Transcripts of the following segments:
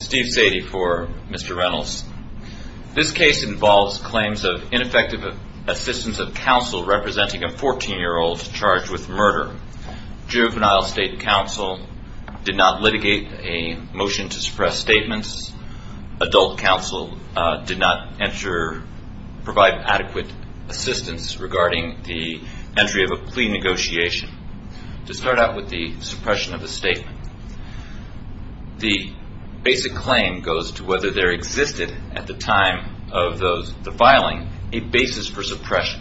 Steve Sadie for Mr. Reynolds. This case involves claims of ineffective assistance of counsel representing a 14-year-old charged with murder. Juvenile state counsel did not litigate a motion to suppress statements. Adult counsel did not provide adequate assistance regarding the entry of a plea negotiation. To start out with the suppression of a statement, the basic claim goes to whether there existed at the time of the filing a basis for suppression.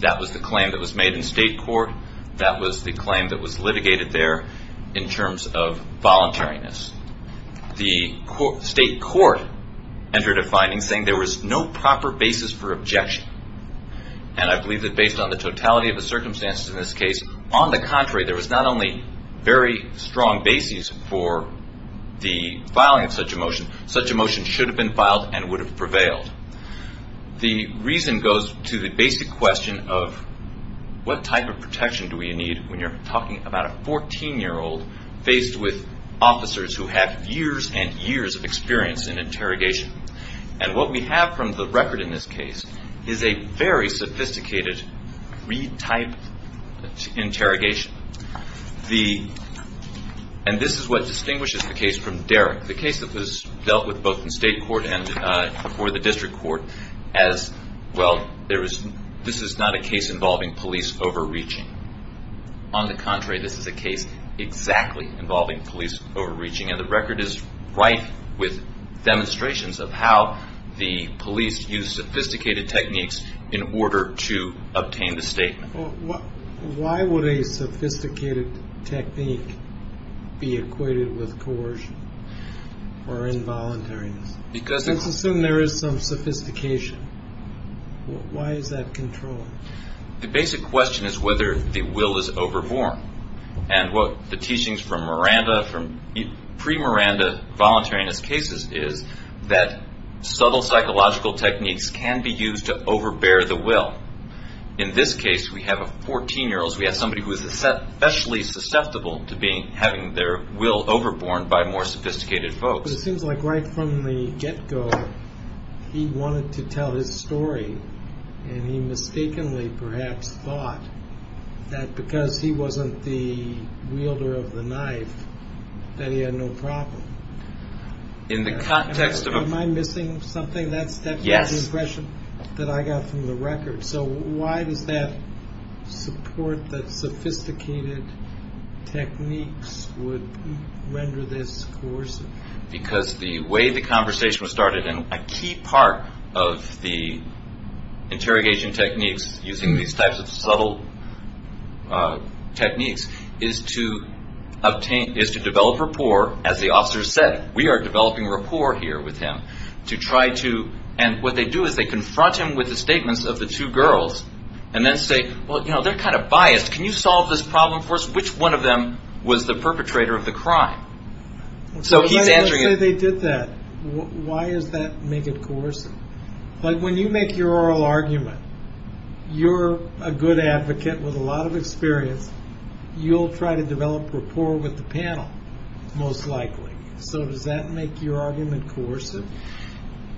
That was the claim that was made in state court. That was the claim that was litigated there in terms of voluntariness. The state court entered a finding saying there was no proper basis for objection. I believe that based on the totality of the circumstances in this case, on the contrary, there was not only very strong basis for the filing of such a motion, such a motion should have been filed and would have prevailed. The reason goes to the basic question of what type of protection do we need when you're talking about a 14-year-old faced with officers who have years and years of experience in interrogation. What we have from the record in this case is a very sophisticated retype interrogation. This is what distinguishes the case from Derrick, the case that was dealt with both in state court and before the district court as, well, this is not a case involving police overreaching. On the contrary, this is a case exactly involving police overreaching. The record is right with demonstrations of how the police used sophisticated techniques in order to obtain the statement. Why would a sophisticated technique be equated with coercion or involuntariness? Let's assume there is some sophistication. Why is that controlling? The basic question is whether the will is overborne. What the teachings from Miranda, from pre-Miranda voluntariness cases is that subtle psychological techniques can be used to overbear the will. In this case, we have a 14-year-old. We have somebody who is especially susceptible to having their will overborne by more sophisticated folks. It seems like right from the get-go, he wanted to tell his story, and he mistakenly perhaps thought that because he wasn't the wielder of the knife, that he had no problem. Am I missing something? That's the impression that I got from the record. So why does that support that sophisticated techniques would render this coercive? Because the way the conversation was started, and a key part of the interrogation techniques using these types of subtle techniques, is to develop rapport, as the officers said. We are developing rapport here with him. What they do is they confront him with the statements of the two girls, and then say, well, they're kind of biased. Can you solve this problem for us? Which one of them was the perpetrator of the crime? So he's answering it. Let's say they did that. Why does that make it coercive? When you make your oral argument, you're a good advocate with a lot of experience. You'll try to develop rapport with the panel, most likely. So does that make your argument coercive?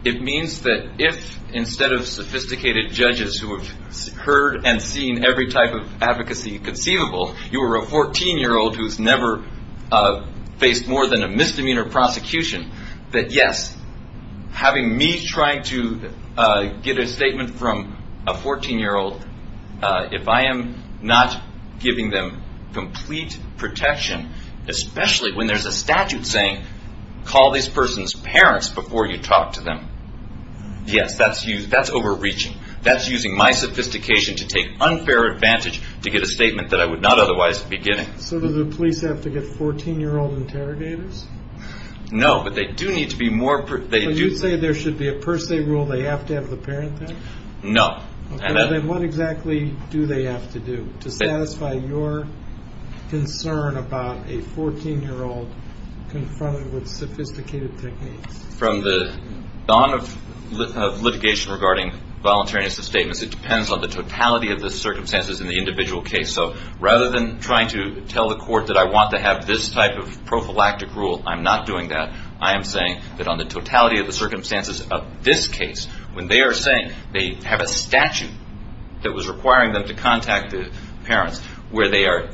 It means that if, instead of sophisticated judges who have heard and seen every type of advocacy conceivable, you are a 14-year-old who's never faced more than a misdemeanor prosecution, that yes, having me try to get a statement from a 14-year-old, if I am not giving them complete protection, especially when there's a statute saying, call this person's parents before you talk to them. Yes, that's overreaching. That's using my sophistication to take unfair advantage to get a statement that I would not otherwise be getting. So do the police have to get 14-year-old interrogators? No, but they do need to be more... So you'd say there should be a per se rule, they have to have the parent there? No. Okay, then what exactly do they have to do to satisfy your concern about a 14-year-old confronted with sophisticated techniques? From the dawn of litigation regarding voluntariness of statements, it depends on the totality of the circumstances in the individual case. So rather than trying to tell the court that I want to have this type of prophylactic rule, I'm not doing that. I am saying that on the totality of the circumstances of this case, when they are saying they have a statute that was requiring them to contact the parents, where they are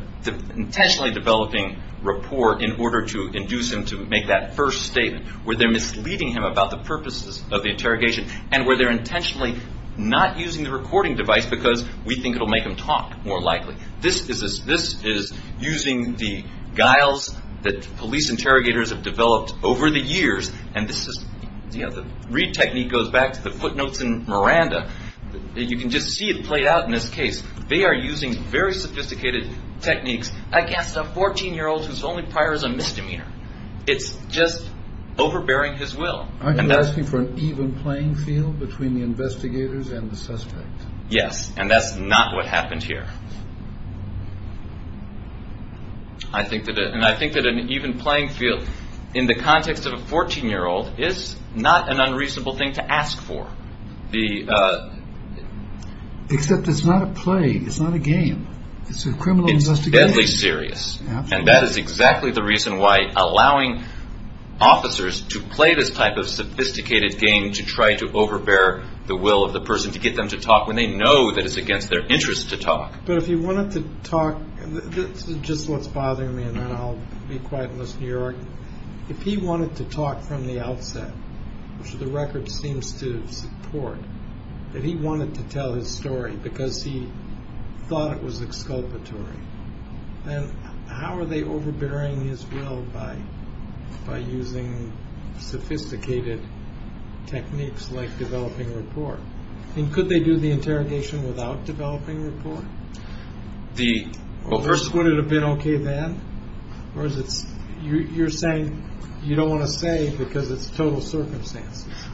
intentionally developing rapport in order to induce him to make that first statement, where they are misleading him about the purposes of the interrogation, and where they are intentionally not using the recording device because we think it will make him talk more likely. This is using the guiles that police interrogators have developed over the years, and this is... The Reid technique goes back to the footnotes in Miranda. You can just see it played out in this case. They are using very sophisticated techniques against a 14-year-old who is only requiring a misdemeanor. It's just overbearing his will. Are you asking for an even playing field between the investigators and the suspect? Yes, and that's not what happened here. I think that an even playing field in the context of a 14-year-old is not an unreasonable thing to ask for. Except it's not a play. It's not a game. It's a criminal investigation. It's deadly serious, and that is exactly the reason why allowing officers to play this type of sophisticated game to try to overbear the will of the person to get them to talk when they know that it's against their interest to talk. But if he wanted to talk... This is just what's bothering me, and then I'll be quiet and listen to your argument. If he wanted to talk from the outset, which the record seems to support, that he wanted to tell his story because he thought it was exculpatory, then how are they overbearing his will by using sophisticated techniques like developing rapport? And could they do the interrogation without developing rapport? First, would it have been okay then? You're saying you don't want to say because it's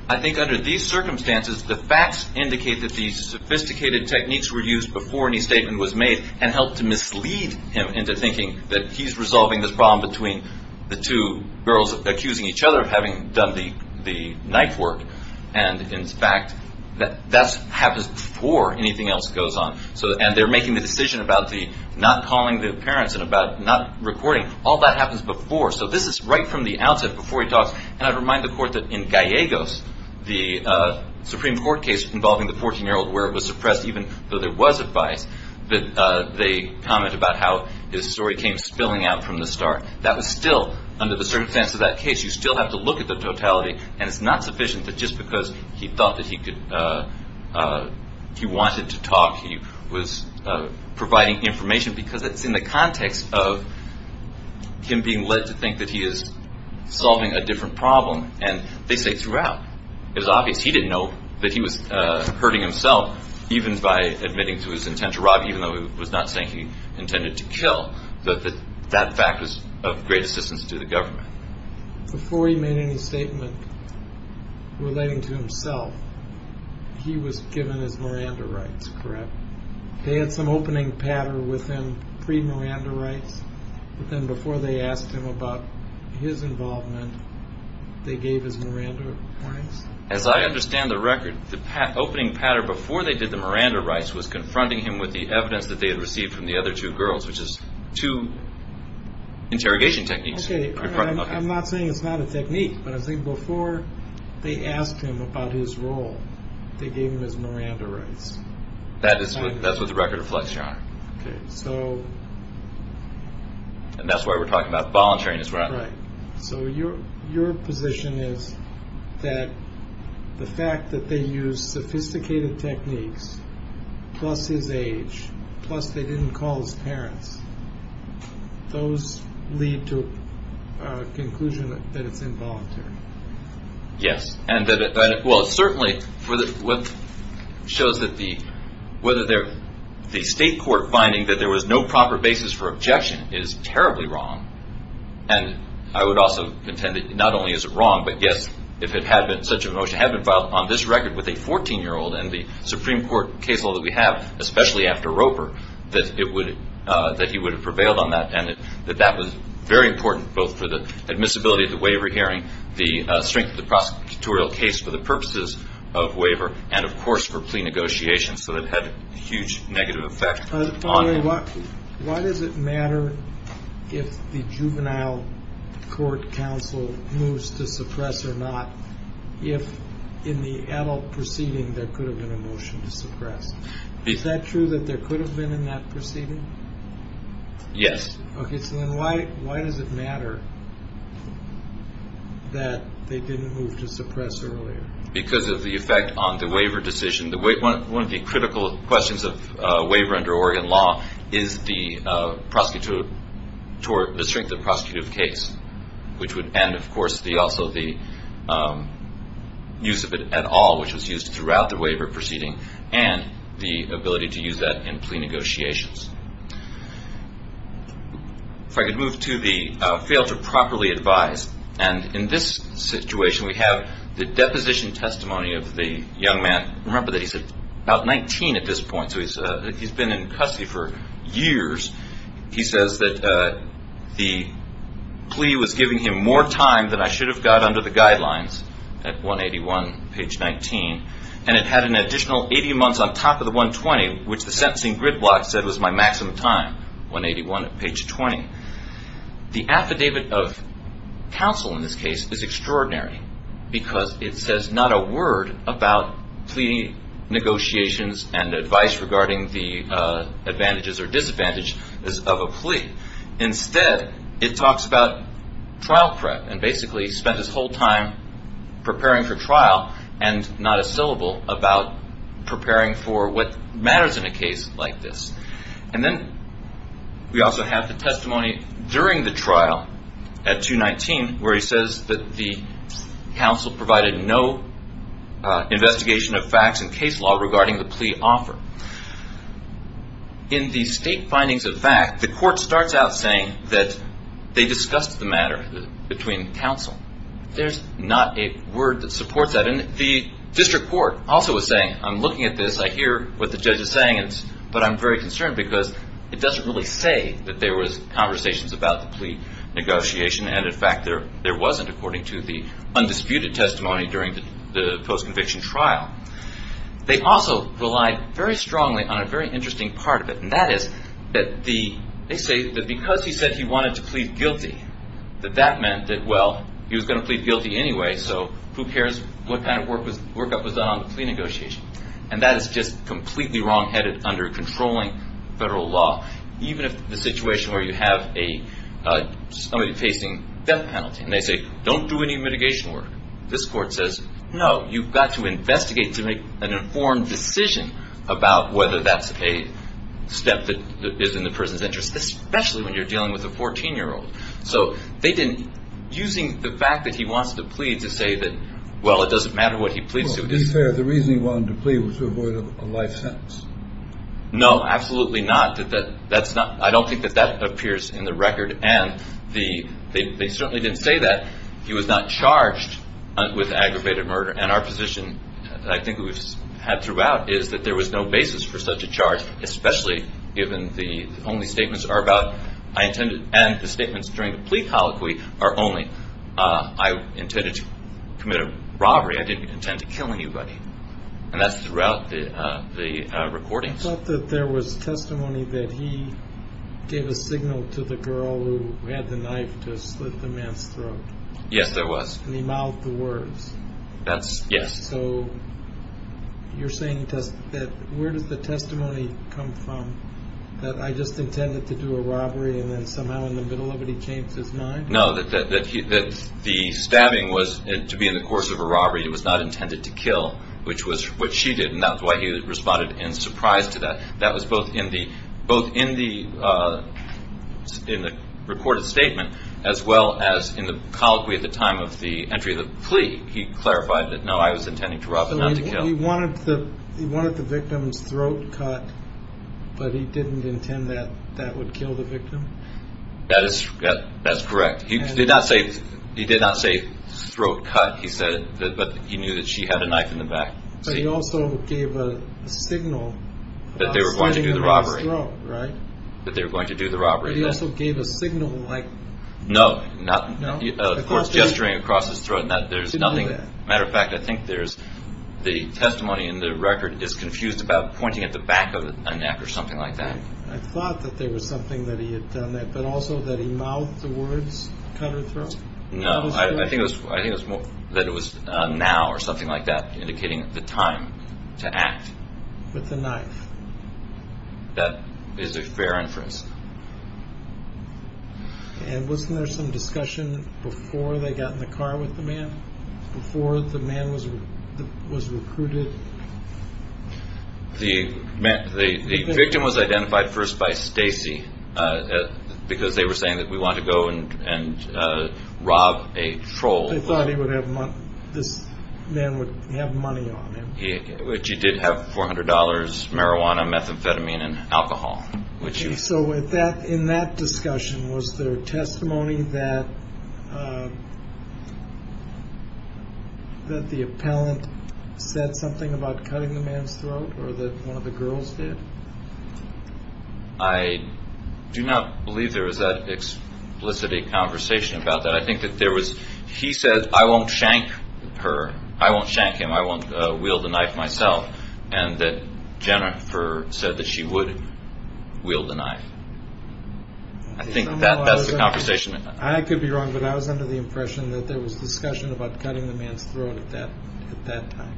I think under these circumstances, the facts indicate that these sophisticated techniques were used before any statement was made and helped to mislead him into thinking that he's resolving this problem between the two girls accusing each other of having done the knife work. And, in fact, that happens before anything else goes on. And they're making the decision about not calling the parents and about not recording. All that happens before. So this is right from the outset before he talks. And I'd remind the court that in Gallegos, the Supreme Court case involving the 14-year-old where it was suppressed even though there was advice, that they comment about how his story came spilling out from the start. That was still under the circumstance of that case. You still have to look at the totality, and it's not sufficient that just because he thought that he wanted to talk, he was providing information because it's in the context of him being led to think that he is solving a different problem. And they say throughout. It was obvious he didn't know that he was hurting himself even by admitting to his intent to rob even though he was not saying he intended to kill. That fact was of great assistance to the government. Before he made any statement relating to himself, he was given his Miranda rights, correct? They had some opening patter with him pre-Miranda rights. But then before they asked him about his involvement, they gave his Miranda rights? As I understand the record, the opening patter before they did the Miranda rights was confronting him with the evidence that they had received from the other two girls, which is two interrogation techniques. I'm not saying it's not a technique, but I think before they asked him about his role, they gave him his Miranda rights. That's what the record reflects, Your Honor. And that's why we're talking about voluntariness, right? So your position is that the fact that they used sophisticated techniques plus his age, plus they didn't call his parents, those lead to a conclusion that it's involuntary. Yes. Well, it certainly shows that the state court finding that there was no proper basis for objection is terribly wrong. And I would also contend that not only is it wrong, but yes, if such a motion had been filed on this record with a 14-year-old and the Supreme Court case law that we have, especially after Roper, that he would have prevailed on that and that that was very important, both for the admissibility of the waiver hearing, the strength of the prosecutorial case for the purposes of waiver, and, of course, for plea negotiations. So that had a huge negative effect. Why does it matter if the juvenile court counsel moves to suppress or not if in the adult proceeding there could have been a motion to suppress? Is that true that there could have been in that proceeding? Yes. Okay. So then why does it matter that they didn't move to suppress earlier? Because of the effect on the waiver decision. One of the critical questions of waiver under Oregon law is the strength of the prosecutive case, which would end, of course, also the use of it at all, which was used throughout the waiver proceeding, and the ability to use that in plea negotiations. If I could move to the fail to properly advise, and in this situation we have the deposition testimony of the young man. Remember that he's about 19 at this point, so he's been in custody for years. He says that the plea was giving him more time than I should have got under the guidelines at 181, page 19, and it had an additional 80 months on top of the 120, which the sentencing gridlock said was my maximum time, 181, page 20. The affidavit of counsel in this case is extraordinary because it says not a word about plea negotiations and advice regarding the advantages or disadvantages of a plea. Instead, it talks about trial prep and basically spent his whole time preparing for trial and not a syllable about preparing for what matters in a case like this. And then we also have the testimony during the trial at 219 where he says that the counsel provided no investigation of facts and case law regarding the plea offer. In the state findings of fact, the court starts out saying that they discussed the matter between counsel. There's not a word that supports that. And the district court also was saying, I'm looking at this, I hear what the judge is saying, but I'm very concerned because it doesn't really say that there was conversations about the plea negotiation and, in fact, there wasn't according to the undisputed testimony during the post-conviction trial. They also relied very strongly on a very interesting part of it, and that is that they say that because he said he wanted to plead guilty, that that meant that, well, he was going to plead guilty anyway, so who cares what kind of workup was done on the plea negotiation. And that is just completely wrongheaded under controlling federal law, even if the situation where you have somebody facing death penalty, and they say, don't do any mitigation work, this court says, no, you've got to investigate to make an informed decision about whether that's a step that is in the person's interest, especially when you're dealing with a 14-year-old. So using the fact that he wants to plead to say that, well, it doesn't matter what he pleads to. Well, to be fair, the reason he wanted to plead was to avoid a life sentence. No, absolutely not. I don't think that that appears in the record, and they certainly didn't say that. He was not charged with aggravated murder, and our position that I think we've had throughout is that there was no basis for such a charge, especially given the only statements are about, I intended, and the statements during the plea colloquy are only, I intended to commit a robbery. I didn't intend to kill anybody. And that's throughout the recordings. I thought that there was testimony that he gave a signal to the girl who had the knife to slit the man's throat. Yes, there was. And he mouthed the words. Yes. So you're saying that where does the testimony come from, that I just intended to do a robbery and then somehow in the middle of it he changed his mind? No, that the stabbing was to be in the course of a robbery. It was not intended to kill, which was what she did, and that's why he responded in surprise to that. That was both in the recorded statement as well as in the colloquy at the time of the entry of the plea. He clarified that, no, I was intending to rob and not to kill. So he wanted the victim's throat cut, but he didn't intend that that would kill the victim? That's correct. He did not say throat cut, he said, but he knew that she had a knife in the back. But he also gave a signal. That they were going to do the robbery. That they were going to do the robbery. But he also gave a signal like. No, of course gesturing across his throat, there's nothing. As a matter of fact, I think the testimony in the record is confused about pointing at the back of a knife or something like that. I thought that there was something that he had done that, but also that he mouthed the words cut her throat? No, I think that it was now or something like that, indicating the time to act. With the knife. That is a fair inference. And wasn't there some discussion before they got in the car with the man? Before the man was recruited? The victim was identified first by Stacy, because they were saying that we want to go and rob a troll. They thought this man would have money on him. Which he did have $400, marijuana, methamphetamine and alcohol. So with that, in that discussion, was there testimony that. That the appellant said something about cutting the man's throat or that one of the girls did. I do not believe there is that explicit a conversation about that. I think that there was. He said, I won't shank her. I won't shank him. I won't wield the knife myself. And that Jennifer said that she would wield the knife. I think that that's the conversation. I could be wrong, but I was under the impression that there was discussion about cutting the man's throat at that time.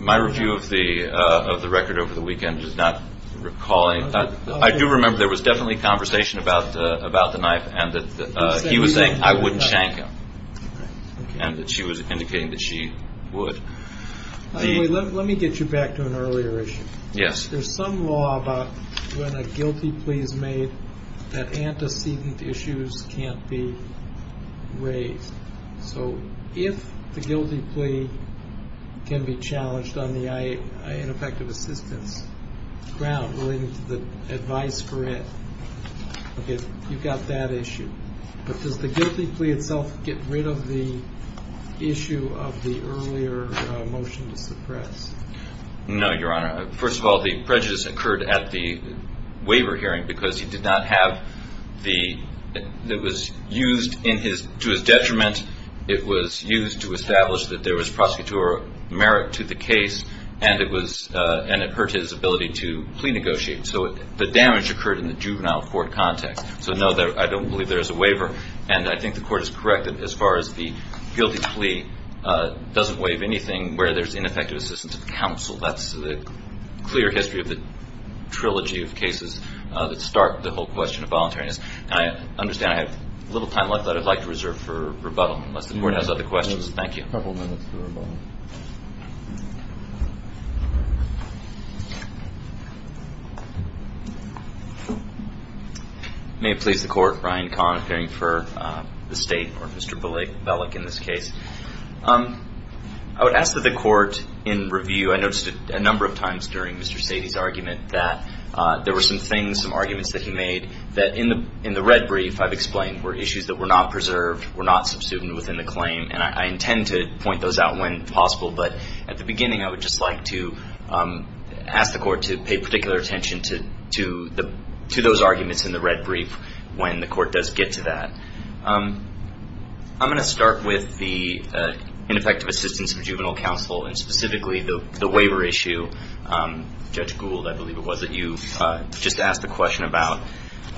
My review of the of the record over the weekend is not recalling. I do remember there was definitely conversation about about the knife and that he was saying I wouldn't shank him. And that she was indicating that she would. Let me get you back to an earlier issue. Yes. There's some law about when a guilty plea is made that antecedent issues can't be raised. So if the guilty plea can be challenged on the ineffective assistance ground, the advice for it, you've got that issue. But does the guilty plea itself get rid of the issue of the earlier motion to suppress? No, Your Honor. First of all, the prejudice occurred at the waiver hearing because he did not have the it was used in his to his detriment. It was used to establish that there was prosecutorial merit to the case. And it was and it hurt his ability to plea negotiate. So the damage occurred in the juvenile court context. So, no, I don't believe there is a waiver. And I think the court is correct as far as the guilty plea doesn't waive anything where there's ineffective assistance of counsel. That's the clear history of the trilogy of cases that start the whole question of voluntariness. I understand I have a little time left that I'd like to reserve for rebuttal unless the court has other questions. Thank you. A couple minutes for rebuttal. May it please the court. Ryan Kahn appearing for the state or Mr. Bellick in this case. I would ask that the court in review, I noticed a number of times during Mr. Sadie's argument that there were some things, some arguments that he made that in the in the red brief I've explained were issues that were not preserved, were not subsumed within the claim. And I intend to point those out when possible. But at the beginning, I would just like to ask the court to pay particular attention to the to those arguments in the red brief when the court does get to that. I'm going to start with the ineffective assistance of juvenile counsel and specifically the waiver issue. Judge Gould, I believe it was that you just asked the question about.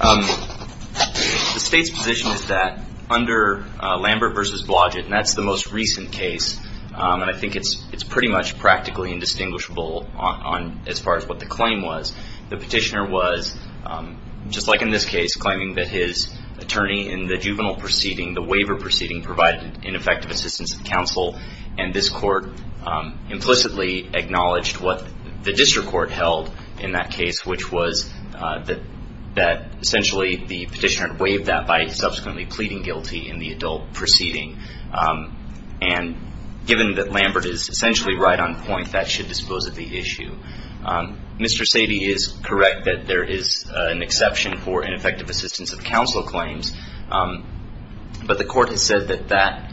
The state's position is that under Lambert versus Blodgett, and that's the most recent case. And I think it's it's pretty much practically indistinguishable on as far as what the claim was. The petitioner was just like in this case, claiming that his attorney in the juvenile proceeding, the waiver proceeding provided ineffective assistance of counsel. And this court implicitly acknowledged what the district court held in that case, which was that that essentially the petitioner waived that by subsequently pleading guilty in the adult proceeding. And given that Lambert is essentially right on point, that should dispose of the issue. Mr. Sadie is correct that there is an exception for ineffective assistance of counsel claims. But the court has said that that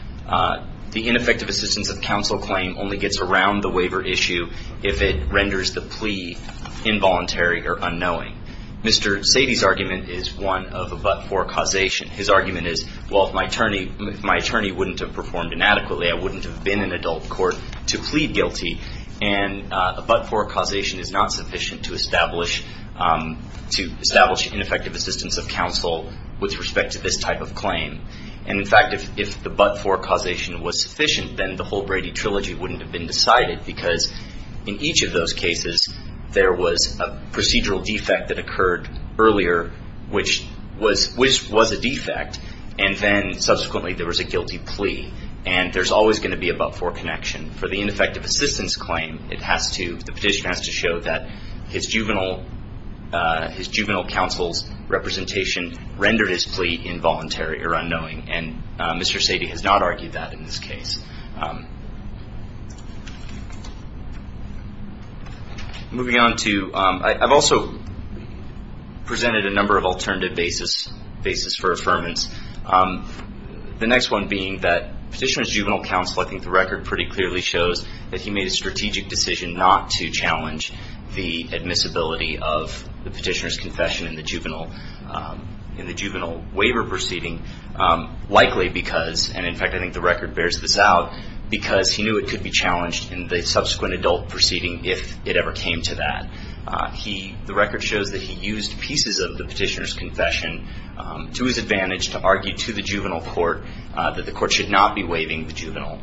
the ineffective assistance of counsel claim only gets around the waiver issue. If it renders the plea involuntary or unknowing, Mr. Sadie's argument is one of a but for causation. His argument is, well, if my attorney, my attorney wouldn't have performed inadequately, I wouldn't have been an adult court to plead guilty. And a but for causation is not sufficient to establish to establish ineffective assistance of counsel. With respect to this type of claim, and in fact, if the but for causation was sufficient, then the whole Brady trilogy wouldn't have been decided because in each of those cases, there was a procedural defect that occurred earlier, which was which was a defect. And then subsequently there was a guilty plea. And there's always going to be a but for connection for the ineffective assistance claim. It has to, the petition has to show that his juvenile, his juvenile counsel's representation rendered his plea involuntary or unknowing. And Mr. Sadie has not argued that in this case. Moving on to, I've also presented a number of alternative basis, basis for affirmance. The next one being that petitioner's juvenile counsel, I think the record pretty clearly shows that he made a strategic decision not to challenge the admissibility of the petitioner's confession in the juvenile, in the juvenile waiver proceeding, likely because, and in fact, I think the record bears this out because he knew it could be challenged in the subsequent adult proceeding. If it ever came to that, he, the record shows that he used pieces of the petitioner's confession to his advantage, to argue to the juvenile court that the court should not be waiving the juvenile,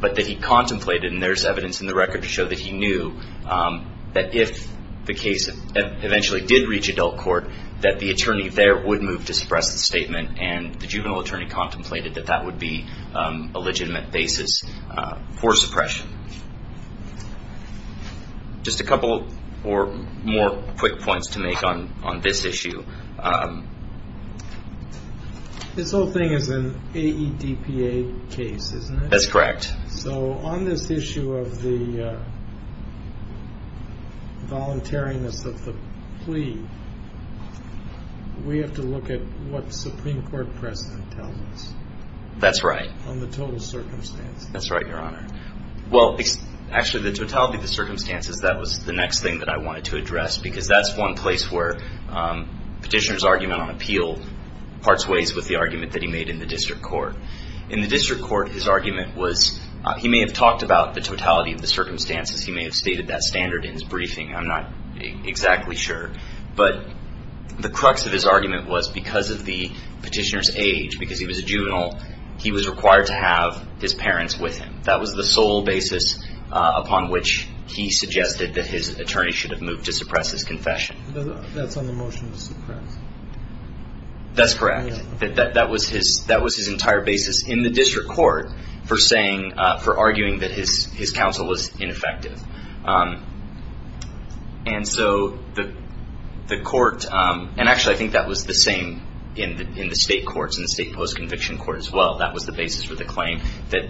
but that he contemplated and there's evidence in the record to show that he knew that if the case eventually did reach adult court, that the attorney there would move to suppress the statement. And the juvenile attorney contemplated that that would be a legitimate basis for suppression. Just a couple or more quick points to make on this issue. This whole thing is an AEDPA case, isn't it? That's correct. So on this issue of the voluntariness of the plea, we have to look at what the Supreme Court precedent tells us. That's right. On the total circumstance. That's right, Your Honor. Well, actually, the totality of the circumstances, that was the next thing that I wanted to address, because that's one place where petitioner's argument on appeal parts ways with the argument that he made in the district court. In the district court, his argument was, he may have talked about the totality of the circumstances. He may have stated that standard in his briefing. I'm not exactly sure. But the crux of his argument was because of the petitioner's age, because he was a juvenile, he was required to have his parents with him. That was the sole basis upon which he suggested that his attorney should have moved to suppress his confession. That's on the motion to suppress. That's correct. That was his entire basis in the district court for arguing that his counsel was ineffective. And so the court, and actually I think that was the same in the state courts, in the state post-conviction court as well. That was the basis for the claim that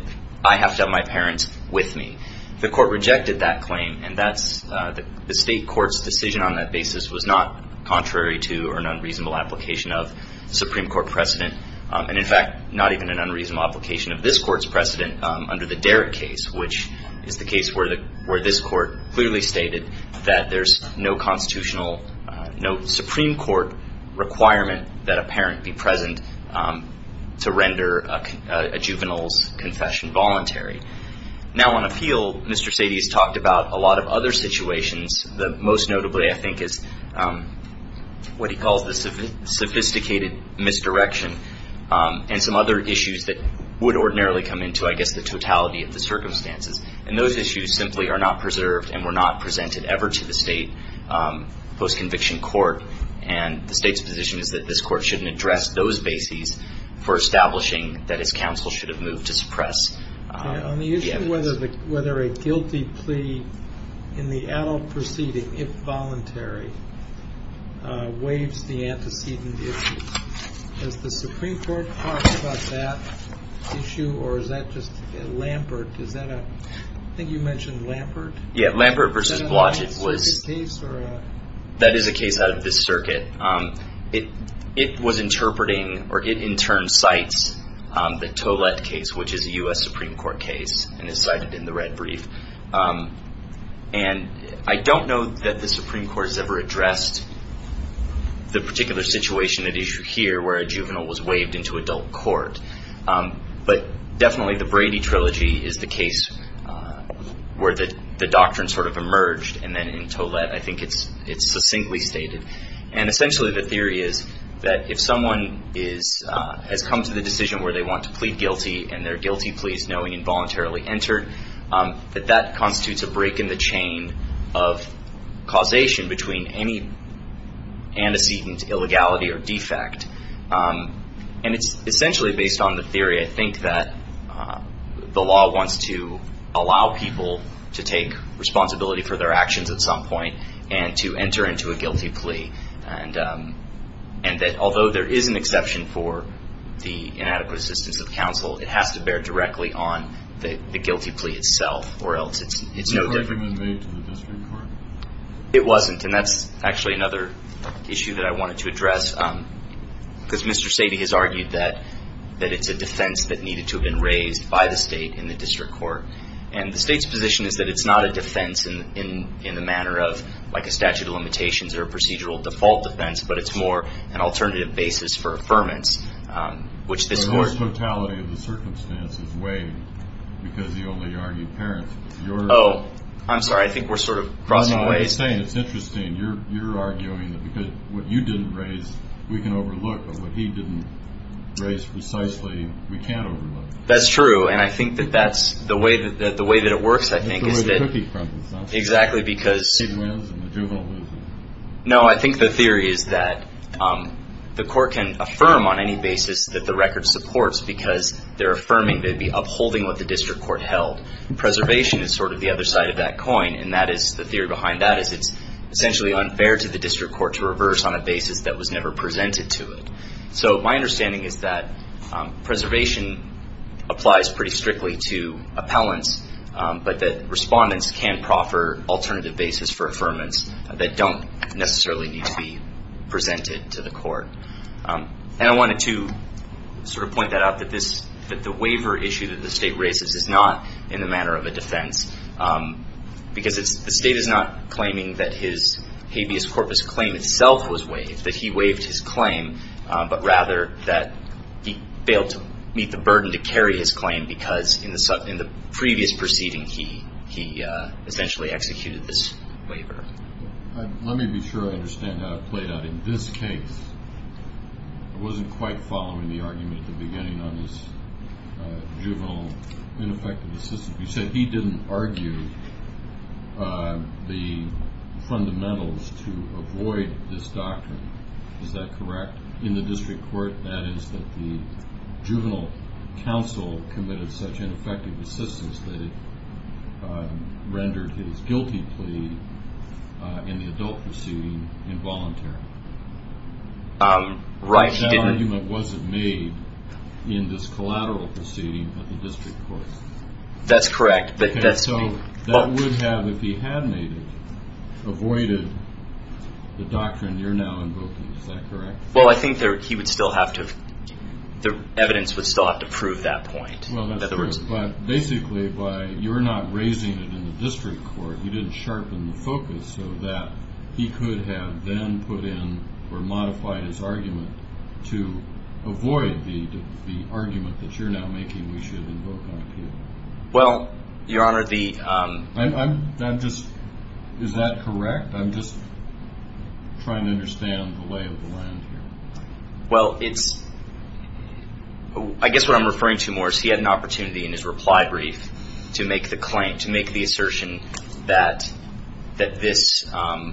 I have to have my parents with me. The court rejected that claim, and the state court's decision on that basis was not contrary to or an unreasonable application of Supreme Court precedent, and in fact not even an unreasonable application of this court's precedent under the Derrick case, which is the case where this court clearly stated that there's no constitutional, no Supreme Court requirement that a parent be present to render a juvenile's confession voluntary. Now on appeal, Mr. Sadie has talked about a lot of other situations, most notably I think is what he calls the sophisticated misdirection, and some other issues that would ordinarily come into, I guess, the totality of the circumstances. And those issues simply are not preserved and were not presented ever to the state, post-conviction court, and the state's position is that this court shouldn't address those bases for establishing that his counsel should have moved to suppress the evidence. On the issue of whether a guilty plea in the adult proceeding, if voluntary, waives the antecedent issues, has the Supreme Court talked about that issue, or is that just Lambert? Is that a, I think you mentioned Lambert. Yeah, Lambert v. Blodgett was, that is a case out of this circuit. It was interpreting, or it in turn cites, the Tollett case, which is a U.S. Supreme Court case, and is cited in the red brief. And I don't know that the Supreme Court has ever addressed the particular situation at issue here, where a juvenile was waived into adult court. But definitely the Brady Trilogy is the case where the doctrine sort of emerged, and then in Tollett I think it's succinctly stated. And essentially the theory is that if someone has come to the decision where they want to plead guilty and they're guilty pleas knowing involuntarily entered, that that constitutes a break in the chain of causation between any antecedent, illegality, or defect. And it's essentially based on the theory, I think, that the law wants to allow people to take responsibility for their actions at some point and to enter into a guilty plea. And that although there is an exception for the inadequate assistance of counsel, it has to bear directly on the guilty plea itself, or else it's no different. Was that recommended to the district court? It wasn't, and that's actually another issue that I wanted to address. Because Mr. Sadie has argued that it's a defense that needed to have been raised by the state in the district court. And the state's position is that it's not a defense in the manner of like a statute of limitations or a procedural default defense, but it's more an alternative basis for affirmance, which this court The totality of the circumstance is waived because he only argued parents. Oh, I'm sorry. I think we're sort of crossing ways. You're saying it's interesting. You're arguing that because what you didn't raise, we can overlook, but what he didn't raise precisely, we can't overlook. That's true, and I think that that's the way that it works, I think, is that It's the way the cookie crumbles, no? Exactly, because He wins and the juvenile loses. No, I think the theory is that the court can affirm on any basis that the record supports because they're affirming they'd be upholding what the district court held. Preservation is sort of the other side of that coin, and that is the theory behind that, is it's essentially unfair to the district court to reverse on a basis that was never presented to it. So my understanding is that preservation applies pretty strictly to appellants, but that respondents can proffer alternative basis for affirmance that don't necessarily need to be presented to the court. And I wanted to sort of point that out, that the waiver issue that the state raises is not in the manner of a defense, because the state is not claiming that his habeas corpus claim itself was waived, that he waived his claim, but rather that he failed to meet the burden to carry his claim because in the previous proceeding he essentially executed this waiver. Let me be sure I understand how it played out. In this case, I wasn't quite following the argument at the beginning on this juvenile ineffective assistance. You said he didn't argue the fundamentals to avoid this doctrine. Is that correct? In the district court, that is that the juvenile counsel committed such ineffective assistance that it rendered his guilty plea in the adult proceeding involuntary. Right. That argument wasn't made in this collateral proceeding at the district court. That's correct. So that would have, if he had made it, avoided the doctrine you're now invoking. Is that correct? Well, I think he would still have to, the evidence would still have to prove that point. Well, that's true, but basically you're not raising it in the district court. You didn't sharpen the focus so that he could have then put in or modified his argument to avoid the argument that you're now making we should invoke on appeal. Well, Your Honor, the I'm just, is that correct? I'm just trying to understand the lay of the land here. Well, it's, I guess what I'm referring to more is he had an opportunity in his reply brief to make the claim, to make the assertion that this, that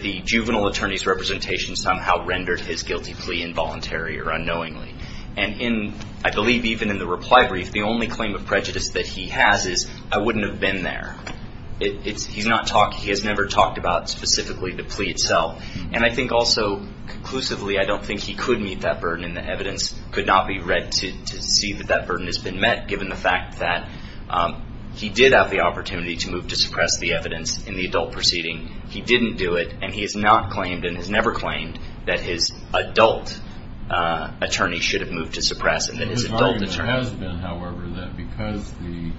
the juvenile attorney's representation somehow rendered his guilty plea involuntary or unknowingly. And in, I believe even in the reply brief, the only claim of prejudice that he has is I wouldn't have been there. It's, he's not talking, he has never talked about specifically the plea itself. And I think also conclusively I don't think he could meet that burden and the evidence could not be read to see that that burden has been met given the fact that he did have the opportunity to move to suppress the evidence in the adult proceeding. He didn't do it. And he has not claimed and has never claimed that his adult attorney should have moved to suppress it. His argument has been, however, that because the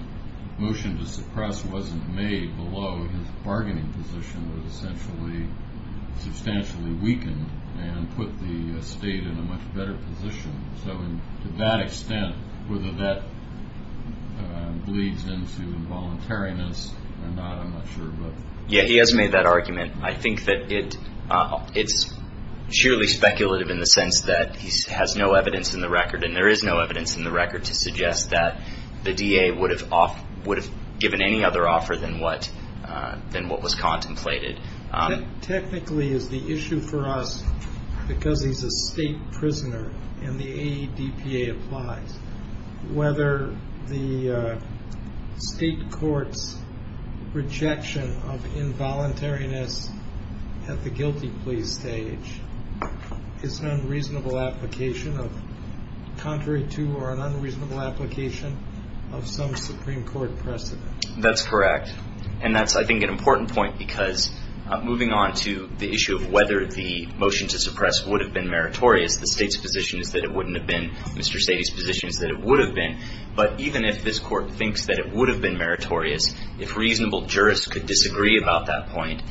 motion to suppress wasn't made below, his bargaining position was essentially substantially weakened and put the state in a much better position. So to that extent, whether that bleeds into involuntariness or not, I'm not sure, but. Yeah, he has made that argument. I think that it, it's surely speculative in the sense that he has no evidence in the record and there is no evidence in the record to suggest that the DA would have off, would have given any other offer than what, than what was contemplated. Technically is the issue for us because he's a state prisoner and the AEDPA applies, whether the state courts rejection of involuntariness at the guilty plea stage is an unreasonable application of, contrary to or an unreasonable application of some Supreme Court precedent. That's correct. And that's, I think, an important point, because moving on to the issue of whether the motion to suppress would have been meritorious, the state's position is that it wouldn't have been. Mr. Sadie's position is that it would have been. But even if this court thinks that it would have been meritorious, if reasonable jurists could disagree about that point,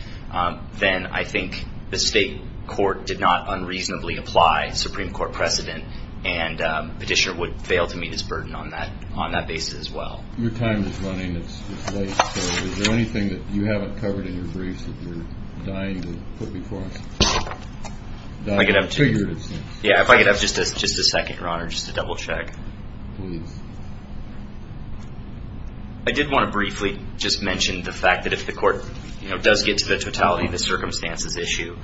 then I think the state court did not unreasonably apply Supreme Court precedent and petitioner would fail to meet his burden on that, on that basis as well. Your time is running. It's late. So is there anything that you haven't covered in your briefs that you're dying to put before us? If I could have just a second, Your Honor, just to double check. Please. I did want to briefly just mention the fact that if the court, you know, does get to the totality of the circumstances issue,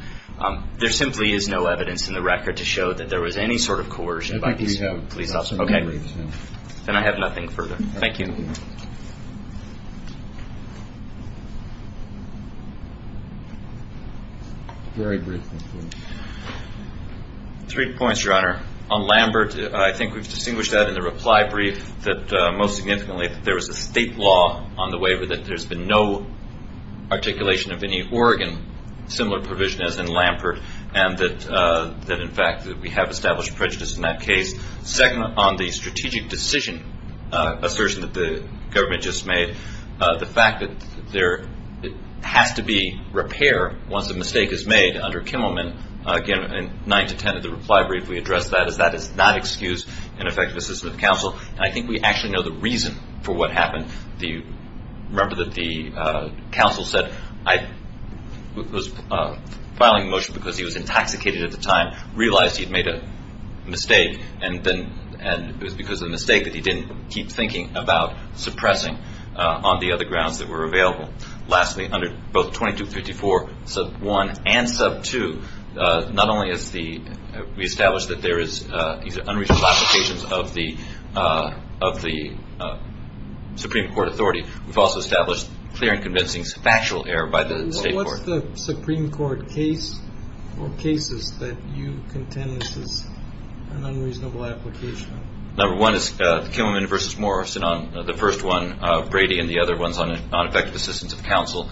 there simply is no evidence in the record to show that there was any sort of coercion by these police officers. Okay. Then I have nothing further. Thank you. Three points, Your Honor. On Lambert, I think we've distinguished that in the reply brief that most significantly there was a state law on the waiver that there's been no articulation of any Oregon similar provision as in Lambert and that in fact we have established prejudice in that case. Second, on the strategic decision assertion that the government just made, the fact that there has to be repair once a mistake is made under Kimmelman, again, in 9 to 10 of the reply brief we addressed that, is that it's not excused in effect of the system of counsel. I think we actually know the reason for what happened. Remember that the counsel said I was filing a motion because he was intoxicated at the time, realized he had made a mistake, and it was because of the mistake that he didn't keep thinking about suppressing on the other grounds that were available. Lastly, under both 2254 sub 1 and sub 2, not only have we established that there is unreasonable applications of the Supreme Court authority, we've also established clear and convincing factual error by the state court. What's the Supreme Court case or cases that you contend this is an unreasonable application of? Number one is the Kimmelman v. Morrison on the first one, Brady, and the other ones on effective assistance of counsel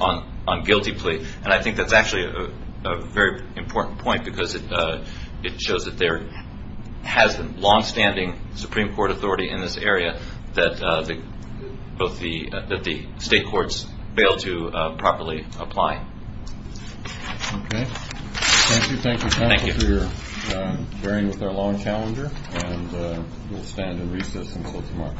on guilty plea. And I think that's actually a very important point because it shows that there has been longstanding Supreme Court authority in this area that the state courts failed to properly apply. Okay. Thank you. Thank you, counsel, for your bearing with our long challenger. And we'll stand and recess until tomorrow.